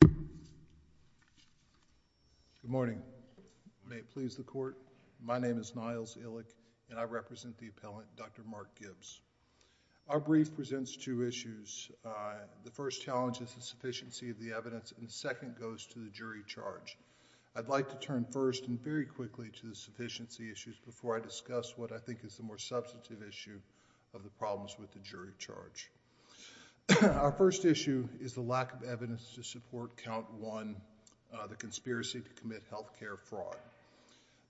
Good morning. May it please the court, my name is Niles Illick and I represent the appellant Dr. Mark Gibbs. Our brief presents two issues. The first challenge is the sufficiency of the evidence and the second goes to the jury charge. I'd like to turn first and very quickly to the sufficiency issues before I discuss what I think is the more substantive issue of the problems with the jury charge. Our first issue is the lack of evidence to support count one, the conspiracy to commit health care fraud.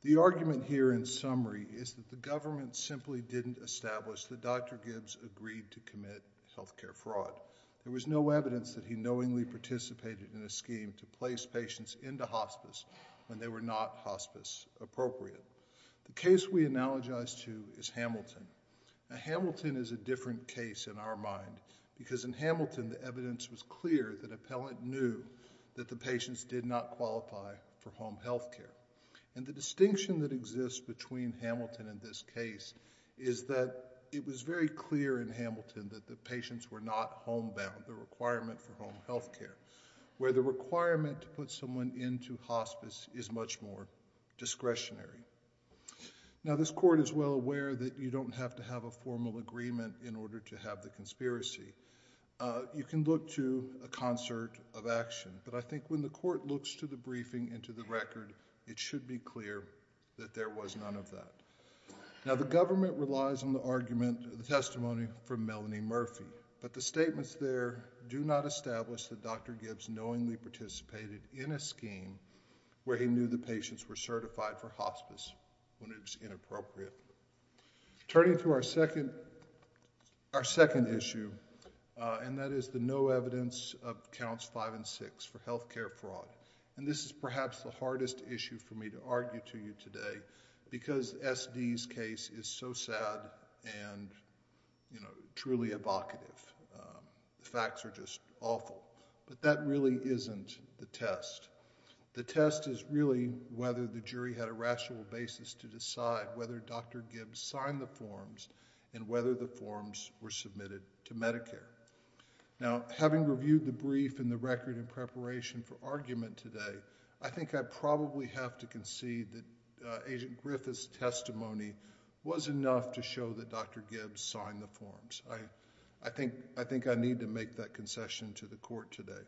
The argument here in summary is that the government simply didn't establish that Dr. Gibbs agreed to commit health care fraud. There was no evidence that he knowingly participated in a scheme to place patients into hospice when they were not hospice appropriate. The case we analogize to is Hamilton. Hamilton is a different case in our mind because in Hamilton the evidence was clear that appellant knew that the patients did not qualify for home health care. And the distinction that exists between Hamilton and this case is that it was very clear in Hamilton that the patients were not home bound, the requirement for home health care, where the requirement to put someone into hospice is much more discretionary. Now this court is well aware that you don't have to have a formal agreement in order to have the conspiracy. You can look to a concert of action, but I think when the court looks to the briefing and to the record, it should be clear that there was none of that. Now the government relies on the argument, the testimony from Melanie Murphy, but the statements there do not establish that Dr. Gibbs knowingly participated in a scheme where he knew the patients were certified for hospice when it was inappropriate. Turning to our second issue, and that is the no evidence of counts five and six for health care fraud. And this is perhaps the hardest issue for me to argue to you today because SD's case is so sad and truly evocative. The facts are just awful. But that really isn't the test. The test is really whether the jury had a rational basis to decide whether Dr. Gibbs signed the forms and whether the forms were submitted to Medicare. Now having reviewed the brief and the record in preparation for argument today, I think I probably have to concede that Agent Griffith's testimony was enough to show that Dr. Gibbs signed the forms. I think I need to make that concession to the court today.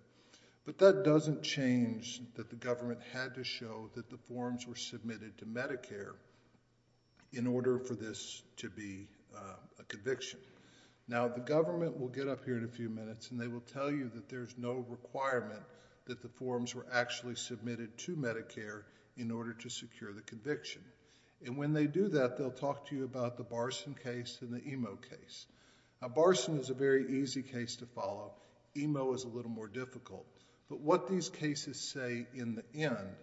But that doesn't change that the government had to show that the forms were submitted to Medicare in order for this to be a conviction. Now the government will get up here in a few minutes and they will tell you that there's no requirement that the forms were actually submitted to Medicare in order to secure the conviction. And when they do that, they'll talk to you about the Barson case and the Emo case. Now Barson is a very easy case to follow. Emo is a little more difficult. But what these cases say in the end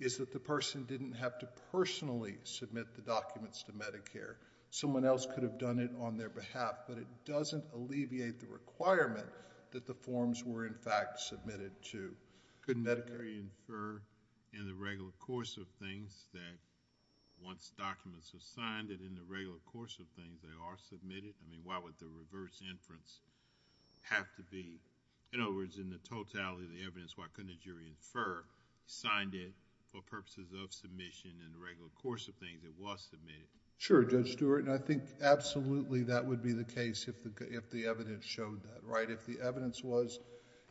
is that the person didn't have to personally submit the documents to Medicare. Someone else could have done it on their behalf, but it doesn't alleviate the requirement that the forms were in fact submitted to good Medicare...... why couldn't a jury infer in the regular course of things that once documents are signed that in the regular course of things they are submitted? I mean why would the reverse inference have to be... in other words, in the totality of the evidence, why couldn't a jury infer signed it for purposes of submission in the regular course of things it was submitted?... Sure, Judge Stewart. I think absolutely that would be the case if the evidence showed that. If the evidence was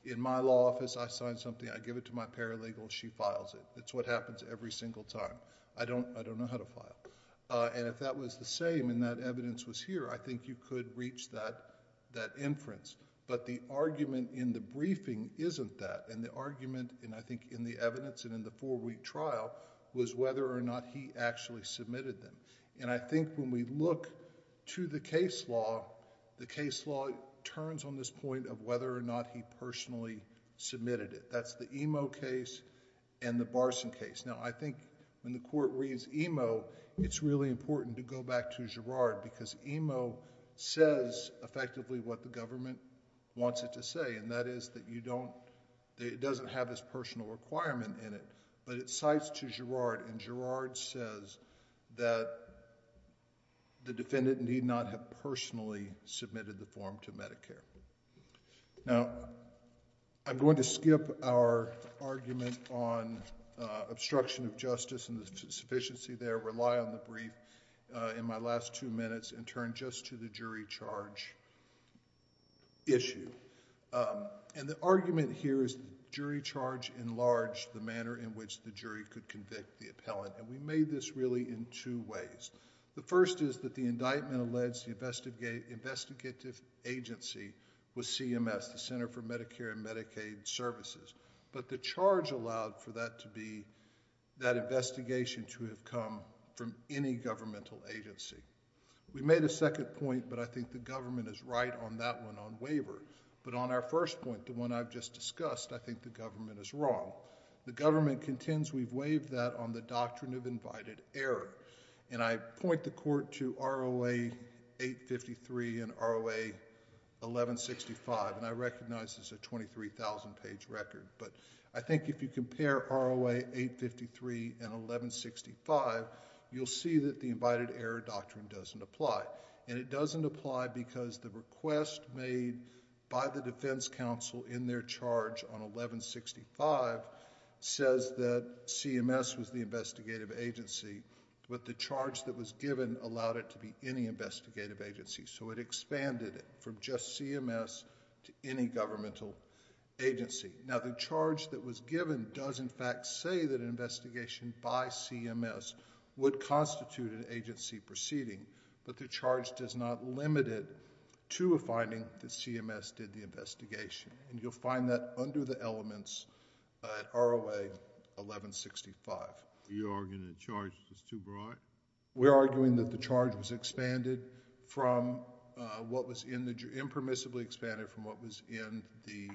in my law office, I sign something, I give it to my paralegal, she files it. It's what happens every single time. I don't know how to file. And if that was the same and that evidence was here, I think you could reach that inference. But the argument in the briefing isn't that. And the argument, and I think in the evidence and in the four-week trial, was whether or not he actually submitted them. And I think when we look to the case law, the case law turns on this point of whether or not he personally submitted it. That's the Emo case and the Barson case. Now I think when the court reads Emo, it's really important to go back to Girard because Emo says effectively what the government wants it to say, and that is that you don't... it doesn't have his personal requirement in it, but it cites to Girard, and Girard says that the defendant need not have personally submitted the form to Medicare. Now, I'm going to skip our argument on obstruction of justice and the sufficiency there, rely on the brief in my last two minutes, and turn just to the jury charge issue. And the argument here is jury charge enlarged the manner in which the jury could convict the appellant, and we made this really in two ways. The first is that the indictment alleged the investigative agency was CMS, the Center for Medicare and Medicaid Services, but the charge allowed for that to be... that investigation to have come from any governmental agency. We made a second point, but I think the government is right on that one on waiver. But on our first point, the one I've just discussed, I think the government is wrong. The government contends we've waived that on the doctrine of invited error, and I point the court to ROA 853 and ROA 1165, and I recognize this is a 23,000 page record, but I think if you compare ROA 853 and 1165, you'll see that the invited error doctrine doesn't apply. And it doesn't apply because the request made by the defense counsel in their charge on 1165 says that CMS was the investigative agency, but the charge that was given allowed it to be any investigative agency. So it expanded it from just CMS to any governmental agency. Now, the charge that was given does, in fact, say that an investigation by CMS would constitute an agency proceeding, but the charge does not limit it to a finding that CMS did the investigation, and you'll find that under the elements at ROA 1165. You're arguing the charge is too broad? We're arguing that the charge was expanded from what was in the... impermissibly expanded from what was in the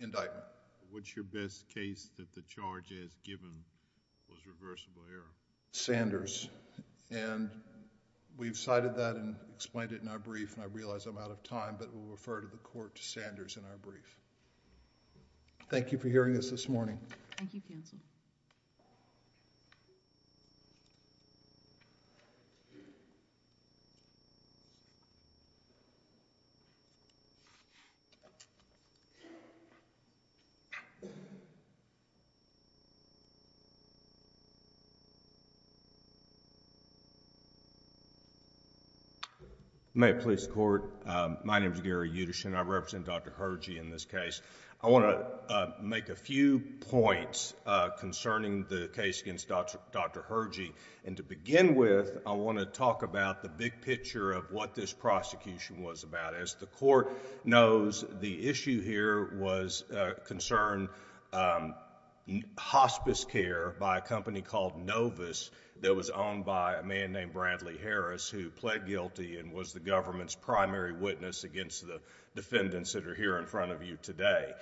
indictment. What's your best case that the charge as given was reversible error? Sanders. And we've cited that and explained it in our brief, and I realize I'm out of time, but we'll refer to the court to Sanders in our brief. Thank you for hearing us this morning. Thank you, counsel. May it please the Court, my name is Gary Utterson. I represent Dr. Hergy in this case. I want to make a few points concerning the case against Dr. Hergy, and to begin with, I want to talk about the big picture of what this prosecution was about. As the court knows, the issue here was concern, hospice care by a company called Novus that was owned by a man named Bradley Harris who pled guilty and was the government's primary witness against the defendants that are here in front of you today.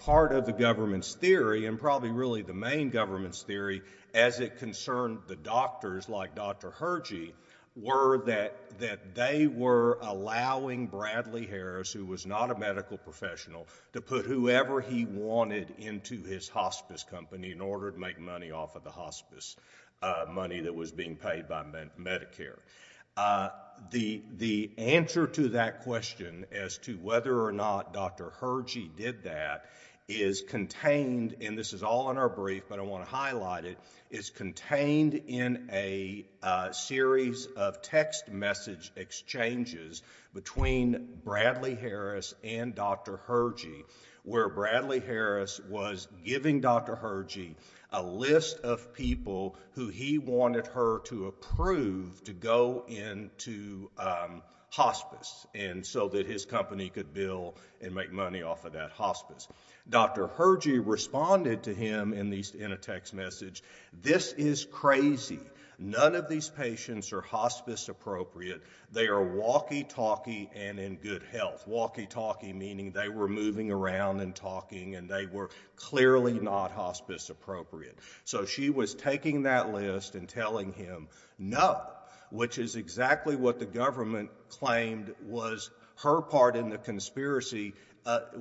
Part of the government's theory and probably really the main government's theory as it concerned the doctors like Dr. Hergy were that they were allowing Bradley Harris who was not a medical professional to put whoever he wanted into his hospice company in order to make money off of the hospice money that was being paid by Medicare. The answer to that question as to whether or not Dr. Hergy did that is contained, and this is all in our brief, but I want to highlight it, is contained in a series of text message exchanges between Bradley Harris and Dr. Hergy where Bradley Harris was giving Dr. Hergy a list of people who he wanted her to approve to go into hospice so that his company could bill and make money off of that hospice. Dr. Hergy responded to him in a text message, this is crazy. None of these patients are hospice appropriate. They are walkie talkie and in good health. Walkie talkie meaning they were moving around and talking and they were clearly not hospice appropriate. So she was taking that list and telling him no, which is exactly what the government claimed was her part in the conspiracy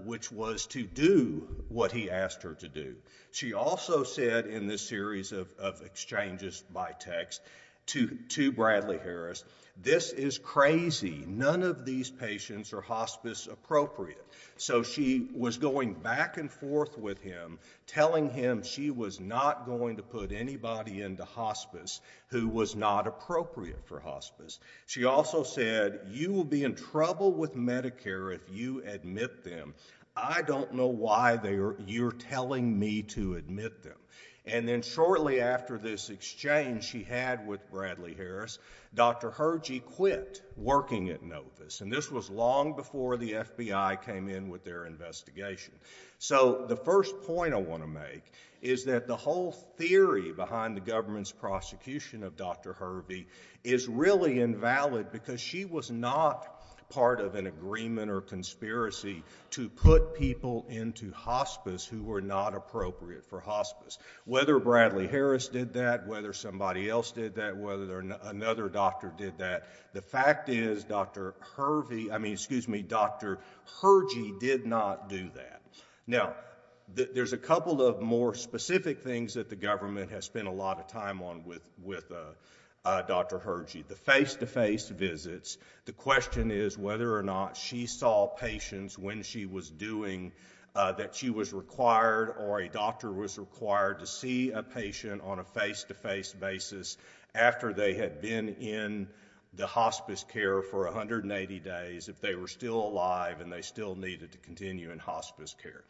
which was to do what he asked her to do. She also said in this series of exchanges by text to Bradley Harris, this is crazy. None of these patients are hospice appropriate. So she was going back and forth with him, telling him she was not going to put anybody into hospice who was not appropriate for hospice. She also said you will be in trouble with Medicare if you admit them. I don't know why you're telling me to admit them. And then shortly after this exchange she had with Bradley Harris, Dr. Hergy quit working at Novus and this was long before the FBI came in with their investigation. So the first point I want to make is that the whole theory behind the government's prosecution of Dr. Hergy is really invalid because she was not part of an agreement or conspiracy to put people into hospice who were not appropriate for hospice. Whether Bradley Harris did that, whether somebody else did that, whether another doctor did that, the fact is Dr. Hergy did not do that. Now, there's a couple of more specific things that the government has spent a lot of time on with Dr. Hergy. The face-to-face visits, the question is whether or not she saw patients when she was doing that she was required or a doctor was required to see a face-to-face basis after they had been in the hospice care for 180 days if they were still alive and they still needed to continue in hospice care.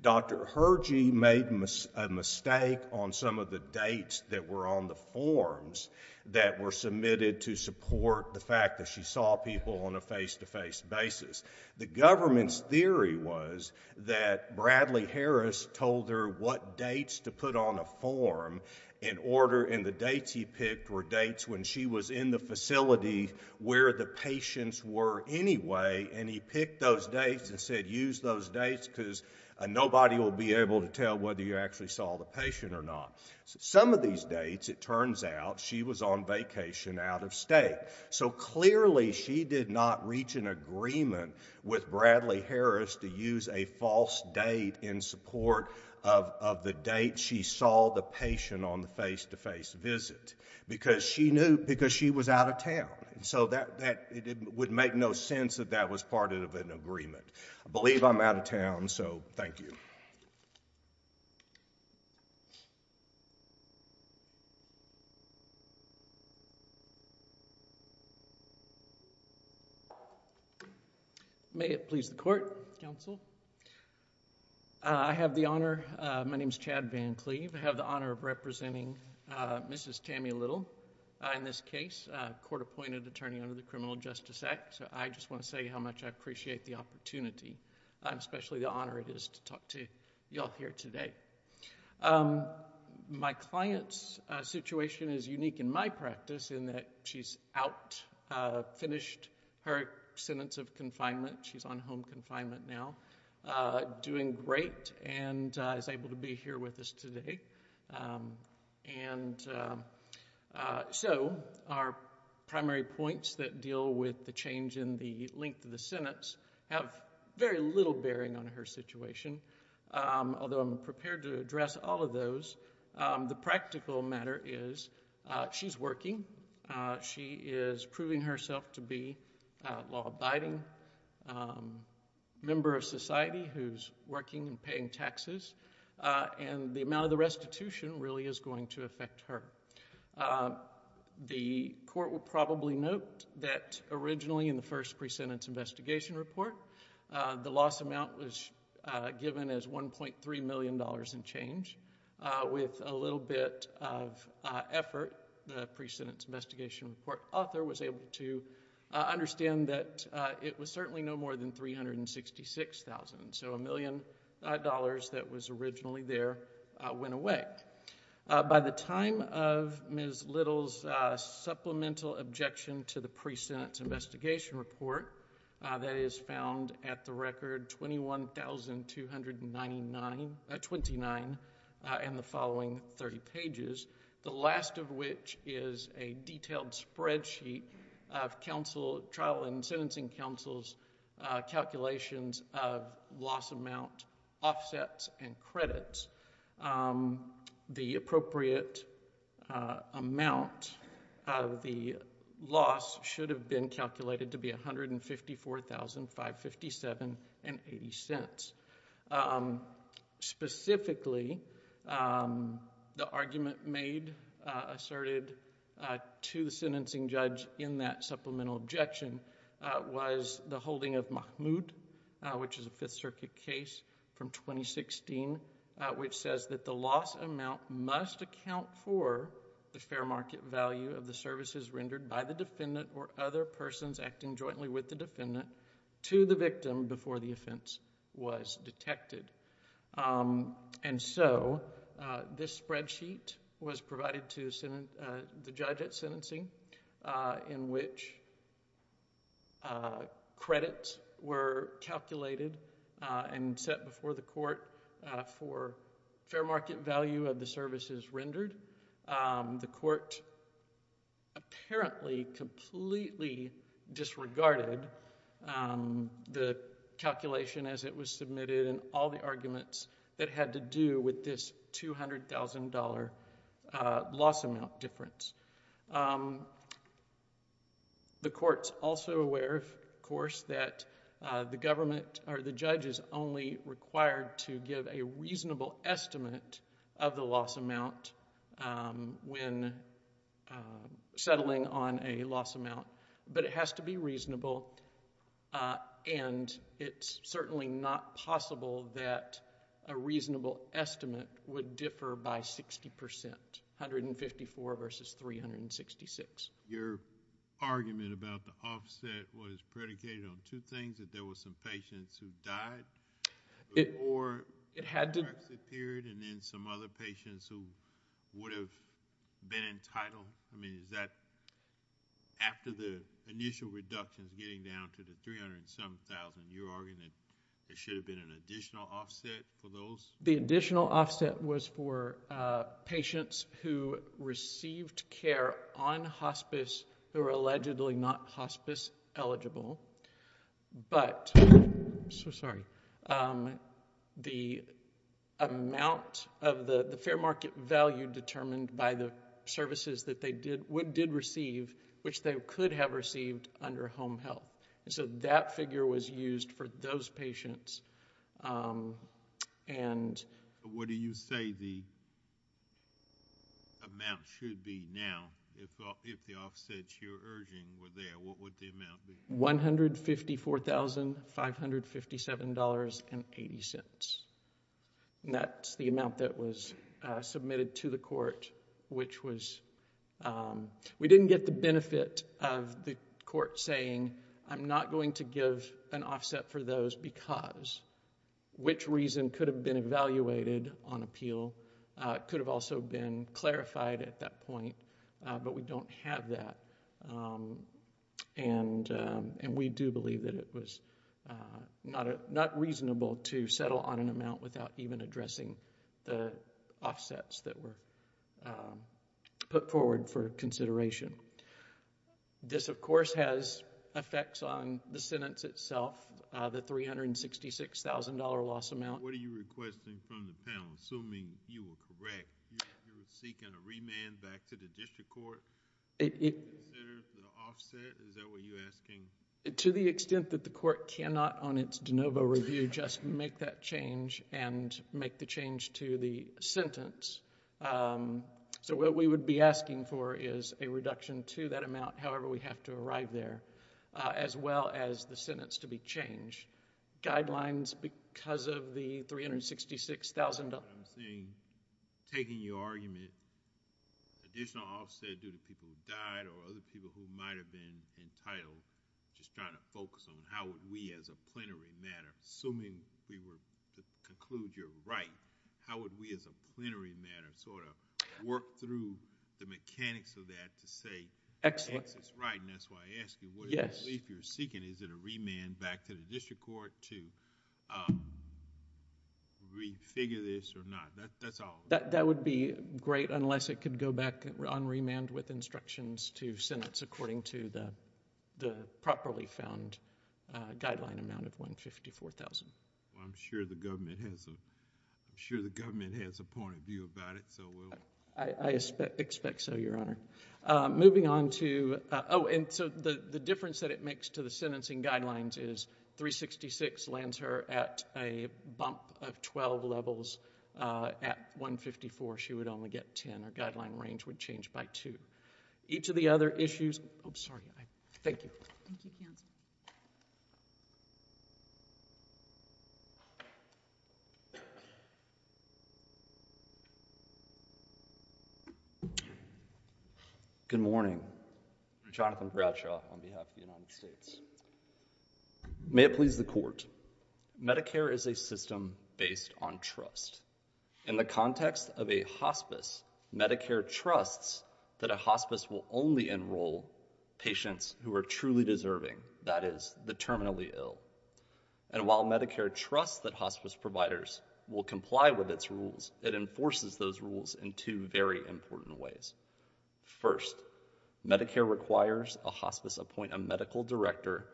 Dr. Hergy made a mistake on some of the dates that were on the forms that were submitted to support the fact that she saw people on a face-to-face basis. The government's theory was that Bradley Harris told her what dates to put on a form in order and the dates he picked were dates when she was in the facility where the patients were anyway and he picked those dates and said use those dates because nobody will be able to tell whether you actually saw the patient or not. Some of these dates, it turns out, she was on vacation out of state. So clearly she did not reach an agreement with Bradley Harris to use a false date in support of the date she saw the patient on the face-to-face visit because she was out of town. So it would make no sense that that was part of an agreement. I believe I'm out of town, so thank you. May it please the court, counsel. I have the honor, my name is Chad Van Cleave. I have the honor of representing Mrs. Tammy Little in this case, a court-appointed attorney under the Criminal Justice Act. So I just want to say how much I appreciate the opportunity, especially the honor it is to talk to you all here today. My client's situation is unique in my practice in that she's out, finished her sentence of confinement. She's on home confinement now, doing great and is able to be here with us today. And so our primary points that deal with the change in the length of the sentence have very little bearing on her situation. Although I'm prepared to address all of those, the practical matter is she is working. She is proving herself to be a law-abiding member of society who's working and paying taxes, and the amount of the restitution really is going to affect her. The court will probably note that originally in the first pre-sentence investigation report, the loss amount was given as $1.3 million in change. With a little bit of effort, the restitution pre-sentence investigation report author was able to understand that it was certainly no more than $366,000. So $1 million that was originally there went away. By the time of Ms. Little's supplemental objection to the pre-sentence investigation report, that is found at the record 21,299... 29 in the following 30 pages, the last of which is the detailed spreadsheet of trial and sentencing counsel's calculations of loss amount offsets and credits. The appropriate amount of the loss should have been calculated to be $154,557.80. Specifically, the argument made, asserted to the sentencing judge in that supplemental objection was the holding of Mahmoud, which is a Fifth Circuit case from 2016, which says that the loss amount must account for the fair market value of the services rendered by the defendant or other persons acting jointly with the defendant to the victim before the defendant was detected. This spreadsheet was provided to the judge at sentencing in which credits were calculated and set before the court for fair market value of the services rendered. The court apparently completely disregarded the calculation as it was intended to be submitted and all the arguments that had to do with this $200,000 loss amount difference. The court's also aware, of course, that the government or the judge is only required to give a reasonable estimate of the loss amount when settling on a loss amount, but it has to be reasonable, and it's certainly not possible that a reasonable estimate would differ by 60%, 154 versus 366. Your argument about the offset was predicated on two things, that there were some patients who died before the Brexit period, and then some other patients who would have been entitled. I mean, is that after the initial reductions getting down to the $300,000, you're arguing that there should have been an additional offset for those? The additional offset was for patients who received care on hospice who were allegedly not hospice eligible, but the amount of the fair market value determined by the services that they did receive, which they could have received under home health. That figure was used for those patients. What do you say the amount should be now if the offsets you're urging were there? What would the amount be? $154,557.80. That's the amount that was submitted to the court, which was $154,557.80. We didn't get the benefit of the court saying, I'm not going to give an offset for those because, which reason could have been evaluated on appeal, could have also been clarified at that point, but we don't have that. We do believe that it was not reasonable to settle on an amount without even addressing the offsets that were put forward for consideration. This, of course, has effects on the sentence itself, the $366,000 loss amount. What are you requesting from the panel? Assuming you were correct, you're seeking a remand back to the district court to consider the offset? Is that what you're asking? To the extent that the court cannot on its de novo review just make that change and make the change to the sentence. What we would be asking for is a reduction to that amount however we have to arrive there, as well as the sentence to be changed. Guidelines, because of the $366,000... I'm seeing, taking your argument, additional offset due to people who died or other people who might have been entitled, just trying to focus on how would we as a plenary matter, assuming we were to conclude you're right, how would we as a plenary matter sort of work through the mechanics of that to say, yes, it's right, and that's why I ask you, what relief you're seeking, is it a remand back to the district court to re-figure this or not? That's all. That would be great unless it could go back on remand with instructions to the properly found guideline amount of $154,000. I'm sure the government has a point of view about it, so we'll... I expect so, Your Honor. Moving on to... oh, and so the difference that it makes to the sentencing guidelines is $366,000 lands her at a bump of 12 levels. At $154,000 she would only get 10, her guideline range would change by 2. Each of the other issues... oh, sorry. Thank you. Thank you, counsel. Good morning. Jonathan Bradshaw on behalf of the United States. May it please the Court, Medicare is a system based on trust. In the context of a hospice, Medicare trusts that a hospice will only enroll patients who are truly deserving, that is, the terminally ill. And while Medicare trusts that hospice providers will comply with its rules, it enforces those rules in two very important ways. First, Medicare requires a hospice appoint a medical director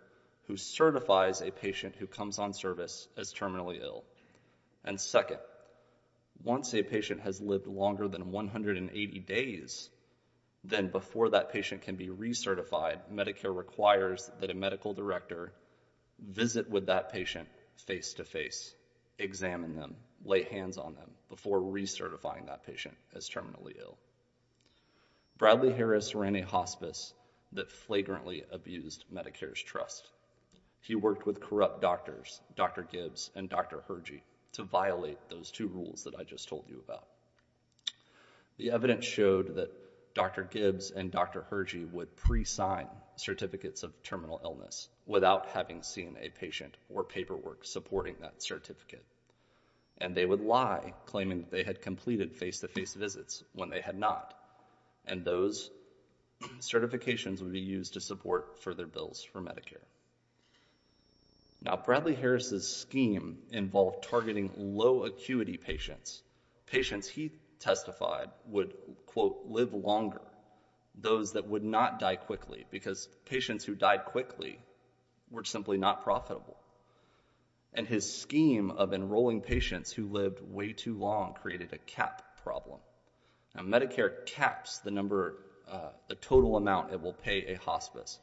who certifies a patient who comes on service as terminally ill. And second, once a patient has lived longer than 180 days, then before that patient can be recertified, Medicare requires that a medical director visit with that patient face-to-face, examine them, lay hands on them before recertifying that patient as terminally ill. Bradley Harris ran a hospice that flagrantly abused Medicare's trust. He worked with corrupt doctors, Dr. Gibbs and Dr. Hergy, to violate those two rules that I just told you about. The evidence showed that Dr. Gibbs and Dr. Hergy would pre-sign certificates of terminal illness without having seen a patient or paperwork supporting that certificate. And they would lie, claiming they had completed face-to-face visits when they had not. And those certifications would be used to support further bills for Medicare. Now, Bradley Harris' scheme involved targeting low-acuity patients, patients he testified would, quote, live longer, those that would not die quickly, because patients who died quickly were simply not profitable. And his law created a cap problem. Now, Medicare caps the total amount it will pay a hospice.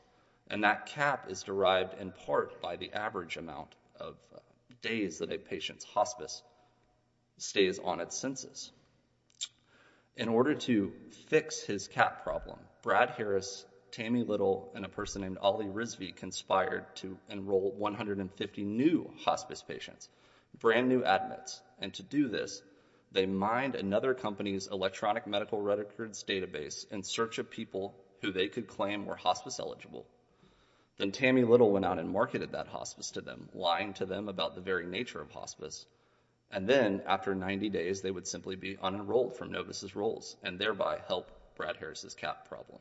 And that cap is derived in part by the average amount of days that a patient's hospice stays on its census. In order to fix his cap problem, Brad Harris, Tammy Little, and a person named They mined another company's electronic medical records database in search of people who they could claim were hospice eligible. Then Tammy Little went out and marketed that hospice to them, lying to them about the very nature of hospice. And then, after 90 days, they would simply be unenrolled from Novus' rolls and thereby help Brad Harris' cap problem.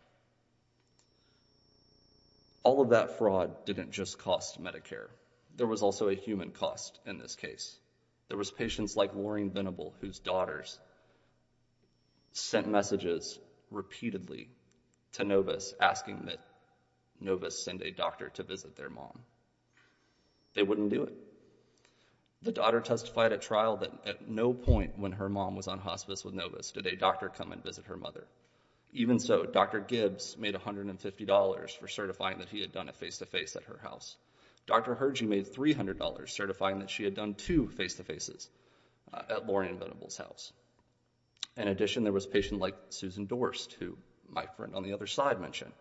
All of that fraud didn't just cost Medicare. There was also a human cost in this case. There was patients like Warren Venable, whose daughters sent messages repeatedly to Novus asking that Novus send a doctor to visit their mom. They wouldn't do it. The daughter testified at trial that at no point when her mom was on hospice with Novus did a doctor come and visit her mother. Even so, Dr. Gibbs made $150 for certifying that he had done a face-to-face at her house. Dr. Hergie made $300 certifying that she had done two face-to-faces at Warren Venable's house. In addition, there was a patient like Susan Dorst, who my friend on the other side mentioned.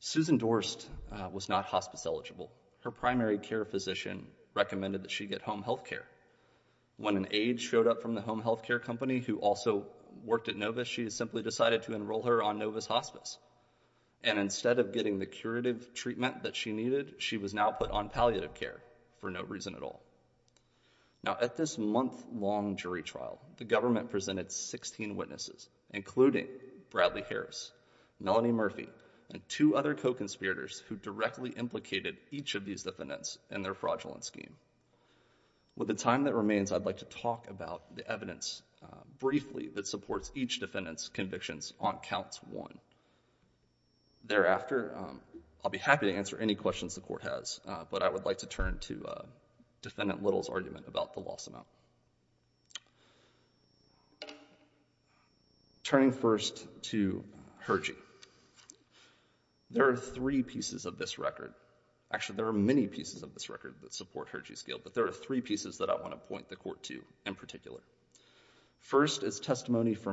Susan Dorst was not hospice eligible. Her primary care physician recommended that she get home health care. When an aide showed up from the home health care company who also worked at Novus, she simply decided to enroll her on Novus hospice. And instead of getting the curative treatment that she needed, she was now put on palliative care for no reason at all. Now, at this month-long jury trial, the government presented 16 witnesses, including Bradley Harris, Melanie Murphy, and two other co-conspirators who directly implicated each of these defendants in their fraudulent scheme. With the time that remains, I'd like to talk about the evidence briefly that supports each defendant's convictions on counts one. Thereafter, I'll be happy to answer any questions the court has, but I would like to turn to Defendant Little's argument about the loss amount. Turning first to Hergie, there are three pieces of this record. Actually, there are many pieces of this record that support Hergie's guilt, but there are three pieces that I want to mention. First is Hergie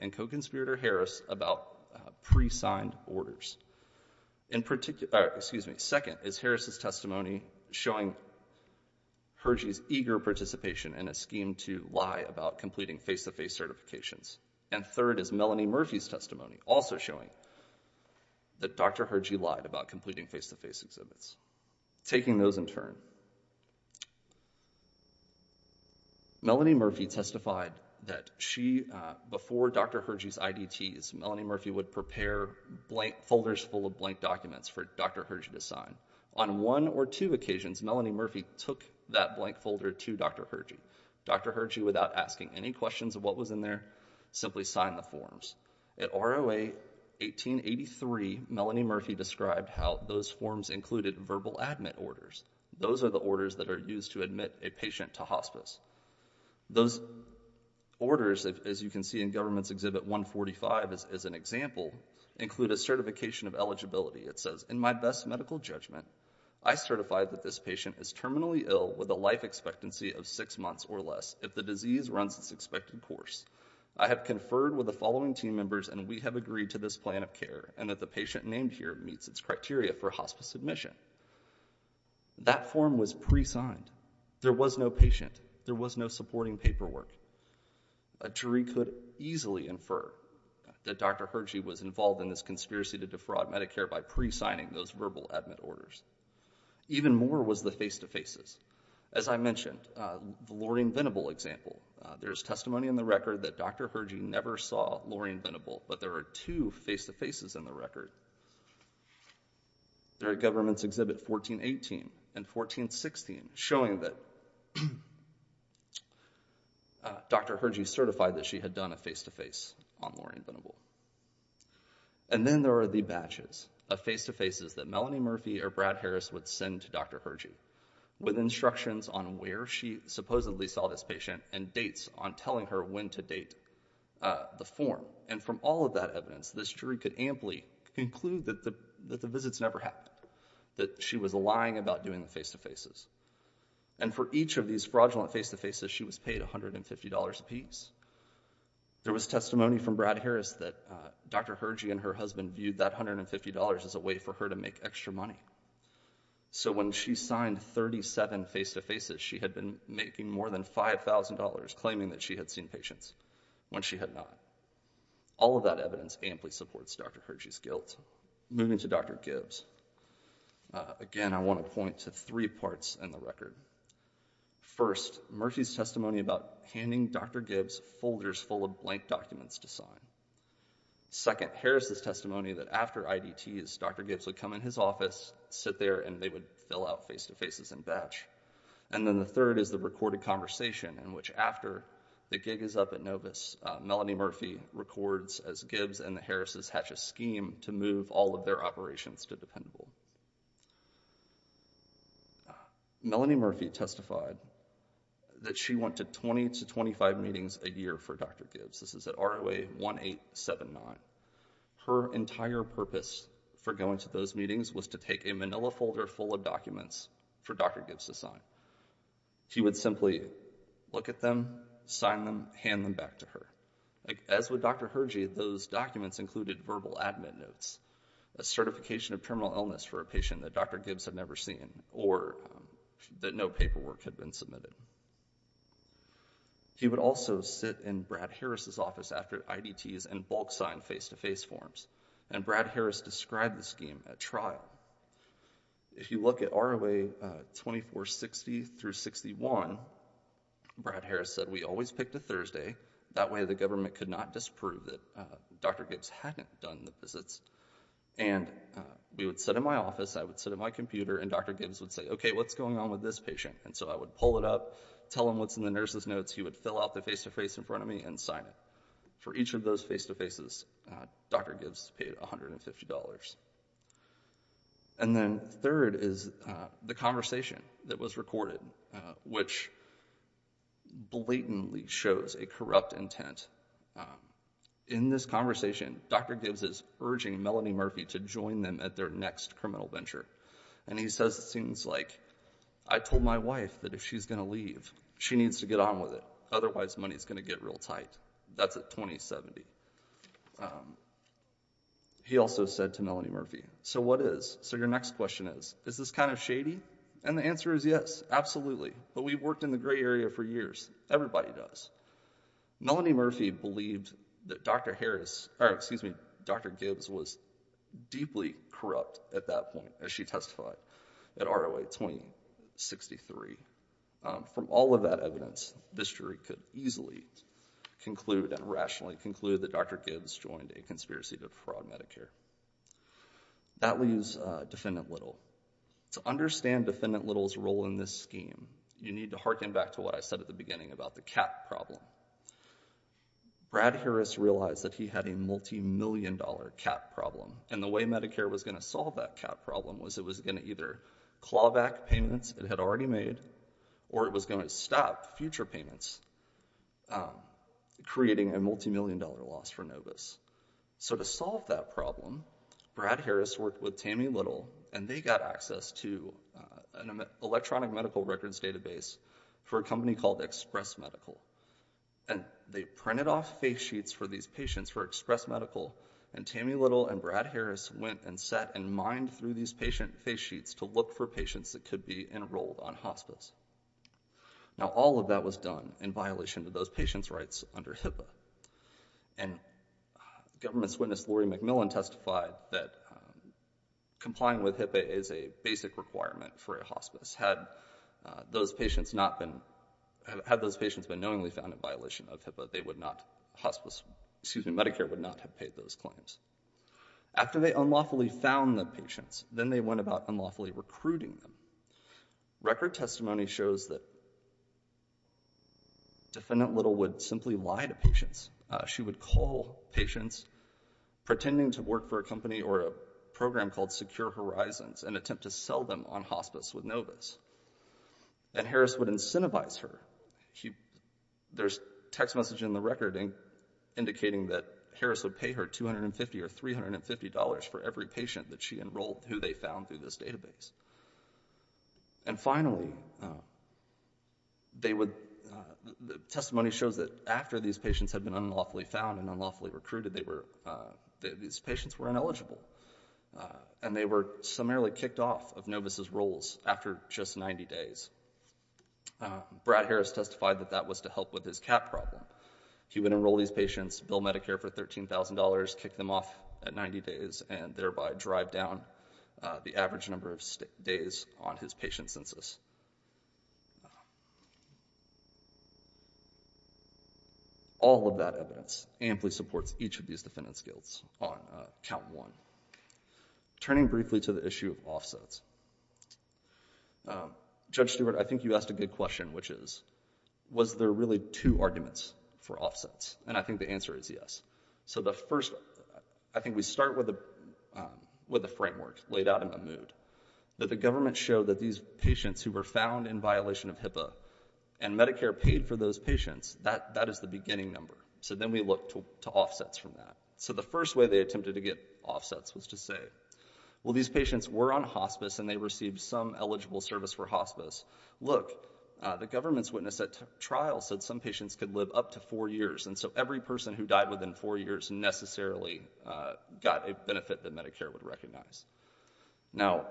and co-conspirator Harris about pre-signed orders. Second is Harris' testimony showing Hergie's eager participation in a scheme to lie about completing face-to-face certifications. And third is Melanie Murphy's testimony, also showing that Dr. Hergie lied about completing face-to-face exhibits. Taking those in turn, Melanie Murphy testified that she, before Dr. Hergie's IDTs, Melanie Murphy would prepare blank folders full of blank documents for Dr. Hergie to sign. On one or two occasions, Melanie Murphy took that blank folder to Dr. Hergie. Dr. Hergie, without asking any questions of what was in there, simply signed the forms. At ROA 1883, Melanie Murphy described how those forms included verbal admit orders. Those are the orders that are used to admit a patient to hospice. Those orders, as you can see in Government's Exhibit 145 as an example, include a certification of eligibility. It says, in my best medical judgment, I certify that this patient is terminally ill with a life expectancy of six months or less if the disease runs its expected course. I have conferred with the following team members, and we have agreed to this plan of care, and that the patient named here meets its criteria for hospice admission. That form was pre-signed. There was no patient. There was no supporting paperwork. A jury could easily infer that Dr. Hergie was involved in this conspiracy to defraud Medicare by pre-signing those verbal admit orders. Even more was the face-to-faces. As I mentioned, the Lorraine Venable example, there is testimony in the record that Dr. Hergie never saw Lorraine Venable, but there are two face-to-faces in the record. There are the Government's Exhibit 1418 and 1416 showing that Dr. Hergie certified that she had done a face-to-face on Lorraine Venable. And then there are the batches of face-to-faces that Melanie Murphy or Brad Harris would send to Dr. Hergie with instructions on where she supposedly saw this patient and dates on telling her when to date the form. And from all of that evidence, this jury could amply conclude that the visits never happened, that she was lying about doing the face-to-faces. And for each of these fraudulent face-to-faces, she was paid $150 apiece. There was testimony from Brad Harris that Dr. Hergie and her husband viewed that $150 as a way for her to make extra money. So when she signed 37 face-to-faces, she had been making more than $5,000 claiming that she had seen patients when she had not. All of that evidence amply supports Dr. Hergie's guilt. Moving to Dr. Gibbs. Again, I want to point to three parts in the record. First, Murphy's testimony about handing Dr. Gibbs folders full of blank documents to sign. Second, Harris' testimony that after IDTs, Dr. Gibbs would come in his office, sit there, and they would fill out face-to-faces and batch. And then the third is the recorded conversation in which after the gig is up at Novus, Melanie Murphy records as Gibbs and the Harris' hatches scheme to move all of their operations to Dependable. Melanie Murphy testified that she went to 20 to 25 meetings a year for Dr. Gibbs. This is at ROA 1879. Her entire purpose for going to those meetings was to take a manila folder full of documents for Dr. Gibbs to sign. She would simply look at them, sign them, hand them back to her. As with Dr. Hergie, those documents included verbal admin notes, a certification of terminal illness for a patient that Dr. Gibbs had never seen or that no paperwork had been submitted. She would also sit in Brad Harris' office after IDTs and bulk sign face-to-face forms. And Brad Harris said we always picked a Thursday, that way the government could not disprove that Dr. Gibbs hadn't done the visits. And we would sit in my office, I would sit at my computer, and Dr. Gibbs would say, okay, what's going on with this patient? And so I would pull it up, tell him what's in the nurse's notes, he would fill out the face-to-face in front of me and sign it. For each of those face-to-faces, Dr. Gibbs paid $150. And then third is the conversation that was recorded, which blatantly shows a corrupt intent. In this conversation, Dr. Gibbs is urging Melanie Murphy to join them at their next criminal venture. And he says, it seems like, I told my wife that if she's going to leave, she needs to get on with it, otherwise money's going to get real tight. That's at 2070. He also said to Melanie Murphy, my question is, is this kind of shady? And the answer is yes, absolutely. But we've worked in the gray area for years. Everybody does. Melanie Murphy believed that Dr. Gibbs was deeply corrupt at that point, as she testified at ROA 2063. From all of that evidence, this jury could easily conclude and rationally conclude that Dr. Gibbs joined a conspiracy to fraud Medicare. That leaves Defendant Little. To understand Defendant Little's role in this scheme, you need to harken back to what I said at the beginning about the cap problem. Brad Harris realized that he had a multimillion-dollar cap problem. And the way Medicare was going to solve that cap problem was it was going to either claw back payments it had already made, or it was going to stop future payments, creating a multimillion-dollar loss for Novus. So to solve that problem, Brad Harris worked with Tammy Little, and they got access to an electronic medical records database for a company called Express Medical. And they printed off face sheets for these patients for Express Medical, and Tammy Little and Brad Harris went and sat and mined through these patient face sheets to look for patients that could be enrolled on hospice. Now, all of that was done in violation of those patients' rights under HIPAA. And government's witness Laurie McMillan testified that complying with HIPAA is a basic requirement for a hospice. Had those patients not been, had those patients been knowingly found in violation of HIPAA, they would not, hospice, excuse me, Medicare would not have paid those claims. After they unlawfully found the patients, then they went about unlawfully recruiting them. Record testimony shows that defendant Little would simply lie to patients. She would call patients pretending to work for a company or a program called Secure Horizons and attempt to sell them on hospice with Novus. And Harris would incentivize her. There's text messaging in the record indicating that Harris would pay her $250 or $350 for every patient that she enrolled who they found through this database. And finally, they would, testimony shows that after these patients had been unlawfully found and unlawfully recruited, they were, these patients were ineligible. And they were summarily kicked off of Novus' roles after just 90 days. Brad Harris testified that that was to help with his cap problem. He would enroll these patients, bill Medicare for $13,000, kick them off at 90 days and thereby drive down the average number of days on his patient census. All of that evidence amply supports each of these defendant's guilts on count one. Turning briefly to the issue of offsets. Judge Stewart, I think you asked a good question which is, was there really two arguments for offsets? And I think the answer is yes. So the first, I think we start with a framework laid out in the mood. That the government showed that these patients who were found in violation of HIPAA and Medicare paid for those patients, that is the beginning number. So then we look to offsets from that. So the first way they attempted to get offsets was to say, well these patients were on hospice and they received some eligible service for hospice. Look, the government's witness at trial said some patients could live up to four years and so every person who died within four years necessarily got a benefit that Medicare would recognize. Now,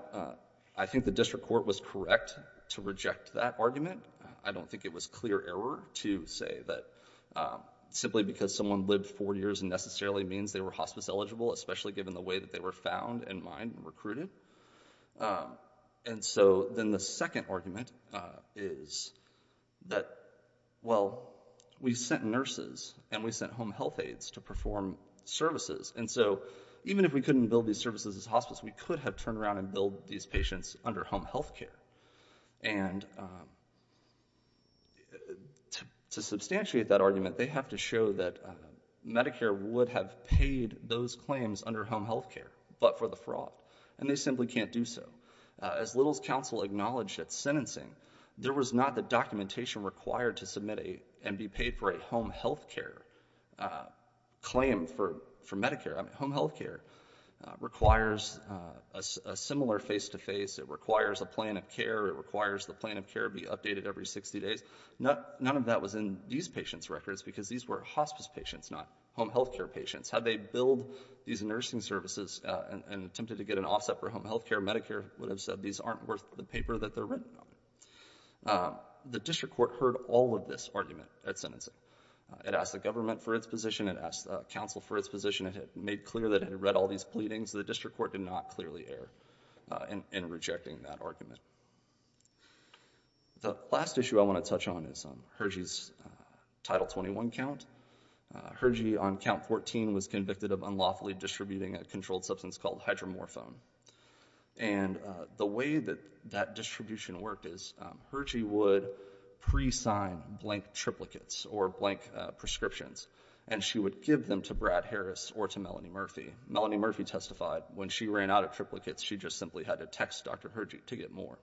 I think the district court was correct to reject that argument. I don't think it was clear error to say that simply because someone lived four years necessarily means they were hospice eligible, especially given the way that they were found and mined and recruited. And so then the second argument is that, well, we sent nurses and we sent home health aides to perform services. And so even if we couldn't build these services as hospice, we could have turned around and built these patients under home health care. And to substantiate that argument, they have to show that Medicare would have paid those claims under home health care, but for the fraud. And they simply can't do so. As Little's counsel acknowledged at sentencing, there was not the documentation required to submit and be paid for a home health care claim for Medicare. I mean, home health care requires a similar face-to-face. It requires a plan of care. It requires the plan of care be updated every 60 days. None of that was in these patients' records because these were hospice patients, not home health care patients. Had they built these nursing services and attempted to get an offset for home health care, Medicare would have said these aren't worth the paper that they're written on. The district court heard all of this argument at sentencing. It asked the government for its position. It asked the counsel for its position. It had made clear that it had read all these pleadings. The last issue I want to touch on is Hergy's Title 21 count. Hergy on count 14 was convicted of unlawfully distributing a controlled substance called hydromorphone. And the way that that distribution worked is Hergy would presign blank triplicates or blank prescriptions, and she would give them to Brad Harris or to Melanie Murphy. Melanie Murphy testified when she ran out of triplicates, she just simply had to text Dr. Hergy to get more.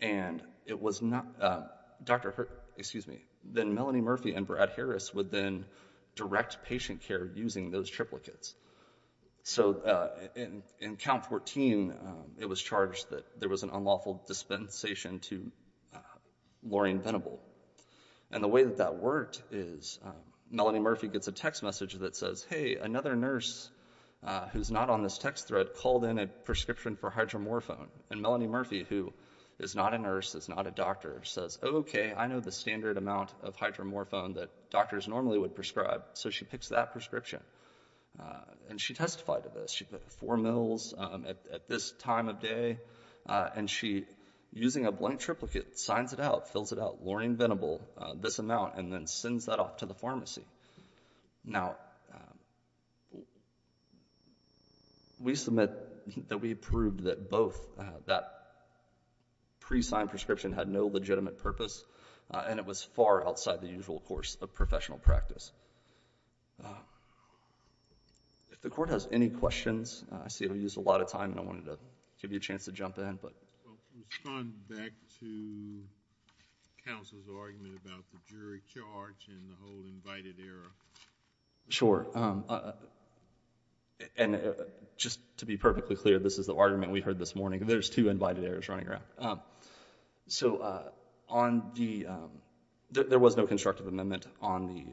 And it was not, Dr. Hergy, excuse me, then Melanie Murphy and Brad Harris would then direct patient care using those triplicates. So in count 14, it was charged that there was an unlawful dispensation to Lorraine Venable. And the way that that worked is Melanie Murphy gets a text message that says, hey, another nurse who's not on this text thread called in a prescription for hydromorphone. And Melanie Murphy, who is not a nurse, is not a doctor, says, okay, I know the standard amount of hydromorphone that doctors normally would prescribe. So she picks that prescription. And she testified to this. She put four mils at this time of day. And she, using a blank triplicate, signs it out, fills it out, Lorraine Venable, this amount, and then sends that off to the pharmacy. Now, we submit that we proved that both, that pre-signed prescription had no legitimate purpose, and it was far outside the usual course of professional practice. If the court has any questions, I see we used a lot of time, and I wanted to give you a chance to jump in. Well, to respond back to counsel's argument about the jury charge and the whole invited error. Sure. And just to be perfectly clear, this is the argument we heard this morning. There's two invited errors running around. So, on the, there was no constructive amendment on the...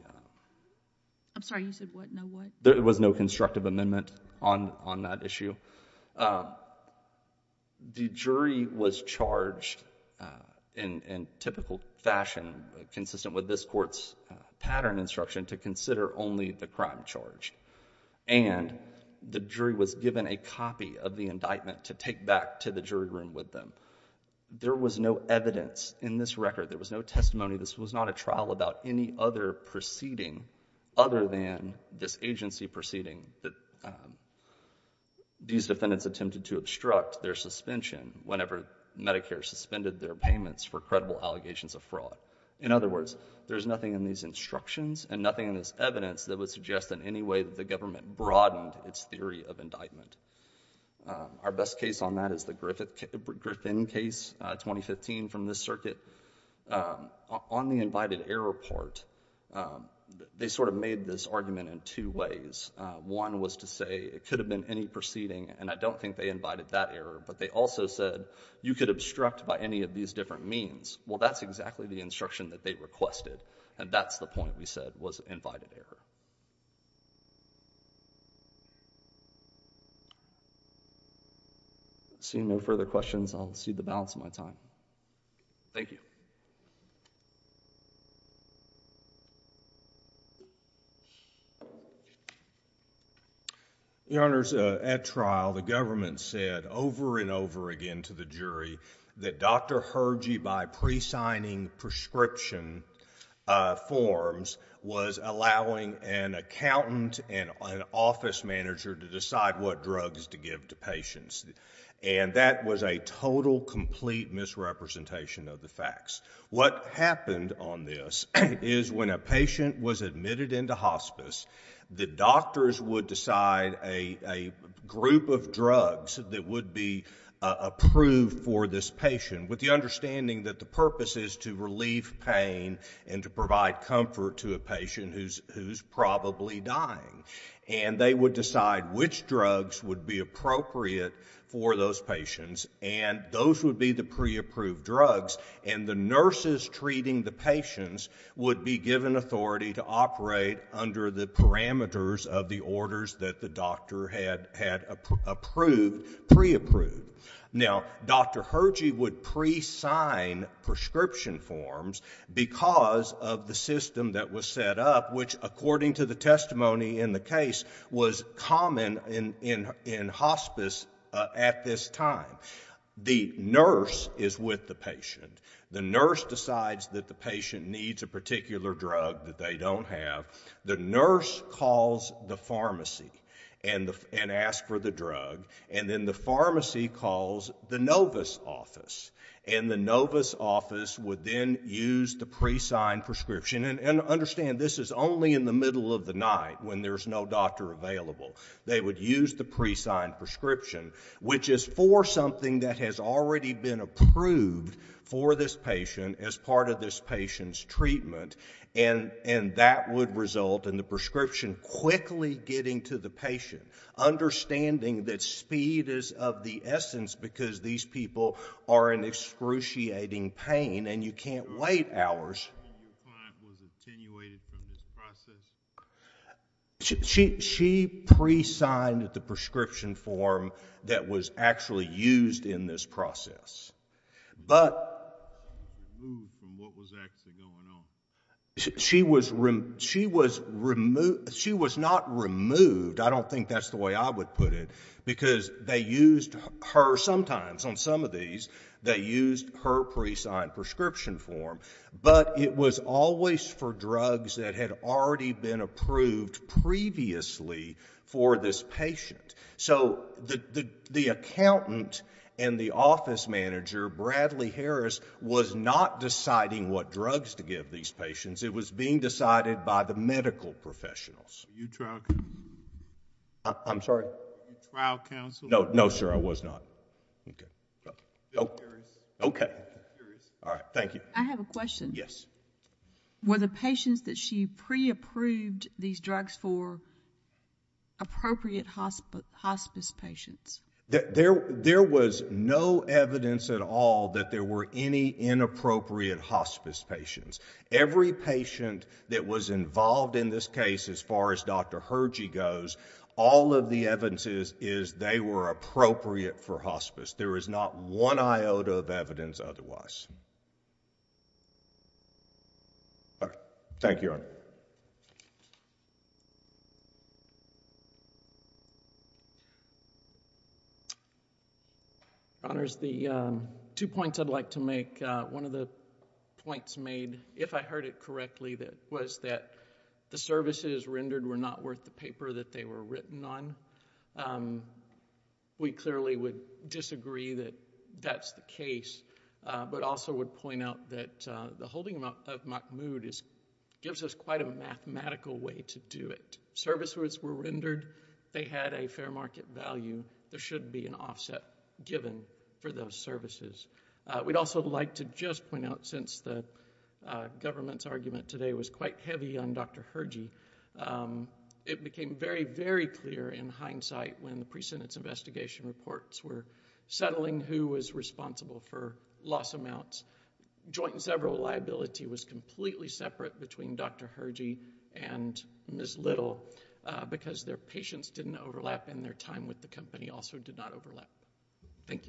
I'm sorry, you said what, no what? There was no constructive amendment on that issue. The jury was charged in typical fashion, consistent with this court's pattern instruction, to consider only the crime charge. And the jury was given a copy of the indictment to take back to the jury room with them. There was no evidence in this record, there was no testimony, this was not a trial about any other proceeding other than this agency proceeding that these defendants attempted to obstruct their suspension whenever Medicare suspended their payments for credible allegations of fraud. In other words, there's nothing in these instructions, and nothing in this evidence that would suggest in any way that the government broadened its theory of indictment. Our best case on that is the Griffin case, 2015, from this circuit. On the invited error part, they sort of made this argument in two ways. One was to say it could have been any proceeding, and I don't think they invited that error, but they also said you could obstruct by any of these different means. Well, that's exactly the instruction that they requested, and that's the point we said was invited error. Seeing no further questions, I'll cede the balance of my time. Thank you. Your Honors, at trial, the government said over and over again to the jury that Dr. Herjee by presigning prescription forms was allowing an accountant and an office manager to decide what drugs to give to patients, and that was a total, complete misrepresentation of the facts. What happened on this is when a patient was admitted into hospice, the doctors would decide a group of drugs that would be approved for this patient with the understanding that the purpose is to relieve pain and to provide comfort to a patient who's probably dying, and they would decide which drugs would be appropriate for those patients, and those would be the pre-approved drugs, and the nurses treating the patients would be given authority to operate under the parameters of the orders that the doctor had approved, pre-approved. Now, Dr. Herjee would pre-sign prescription forms because of the system that was set up, which, according to the testimony in the case, was common in hospice at this time. The nurse is with the patient. The nurse decides that the patient needs a particular drug that they don't have. The nurse calls the pharmacy and asks for the drug, and then the pharmacy calls the novice office, and the novice office would then use the pre-signed prescription, and understand this is only in the middle of the night when there's no doctor available. They would use the pre-signed prescription, which is for something that has already been approved for this patient as part of this patient's treatment, and that would result in the prescription quickly getting to the patient, understanding that speed is of the essence because these people are in excruciating pain, and you can't wait hours. Your client was attenuated from this process? She pre-signed the prescription form that was actually used in this process, but... Removed from what was actually going on? She was not removed. I don't think that's the way I would put it, because they used her, sometimes on some of these, they used her pre-signed prescription form, but it was always for drugs that had already been approved previously for this patient. So the accountant and the office manager, Bradley Harris, was not deciding what drugs to give these patients. It was being decided by the medical professionals. Were you trial counsel? I'm sorry? Were you trial counsel? No, sir, I was not. Bill Harris. Okay. Bill Harris. All right, thank you. I have a question. Yes. Were the patients that she pre-approved these drugs for appropriate hospice patients? There was no evidence at all that there were any inappropriate hospice patients. Every patient that was involved in this case, as far as Dr. Hergy goes, all of the evidence is they were appropriate for hospice. There is not one iota of evidence otherwise. All right, thank you, Your Honor. Your Honors, the two points I'd like to make. One of the points made, if I heard it correctly, was that the services rendered were not worth the paper that they were written on. We clearly would disagree that that's the case, but also would point out that the holding of Mahmood gives us quite a mathematical way to do it. Services were rendered. They had a fair market value. There should be an offset given for those services. We'd also like to just point out, since the government's argument today was quite heavy on Dr. Hergy, it became very, very clear in hindsight when the pre-sentence investigation reports were settling who was responsible for loss amounts. Joint and several liability was completely separate between Dr. Hergy and Ms. Little because their patients didn't overlap and their time with the company also did not overlap. Thank you.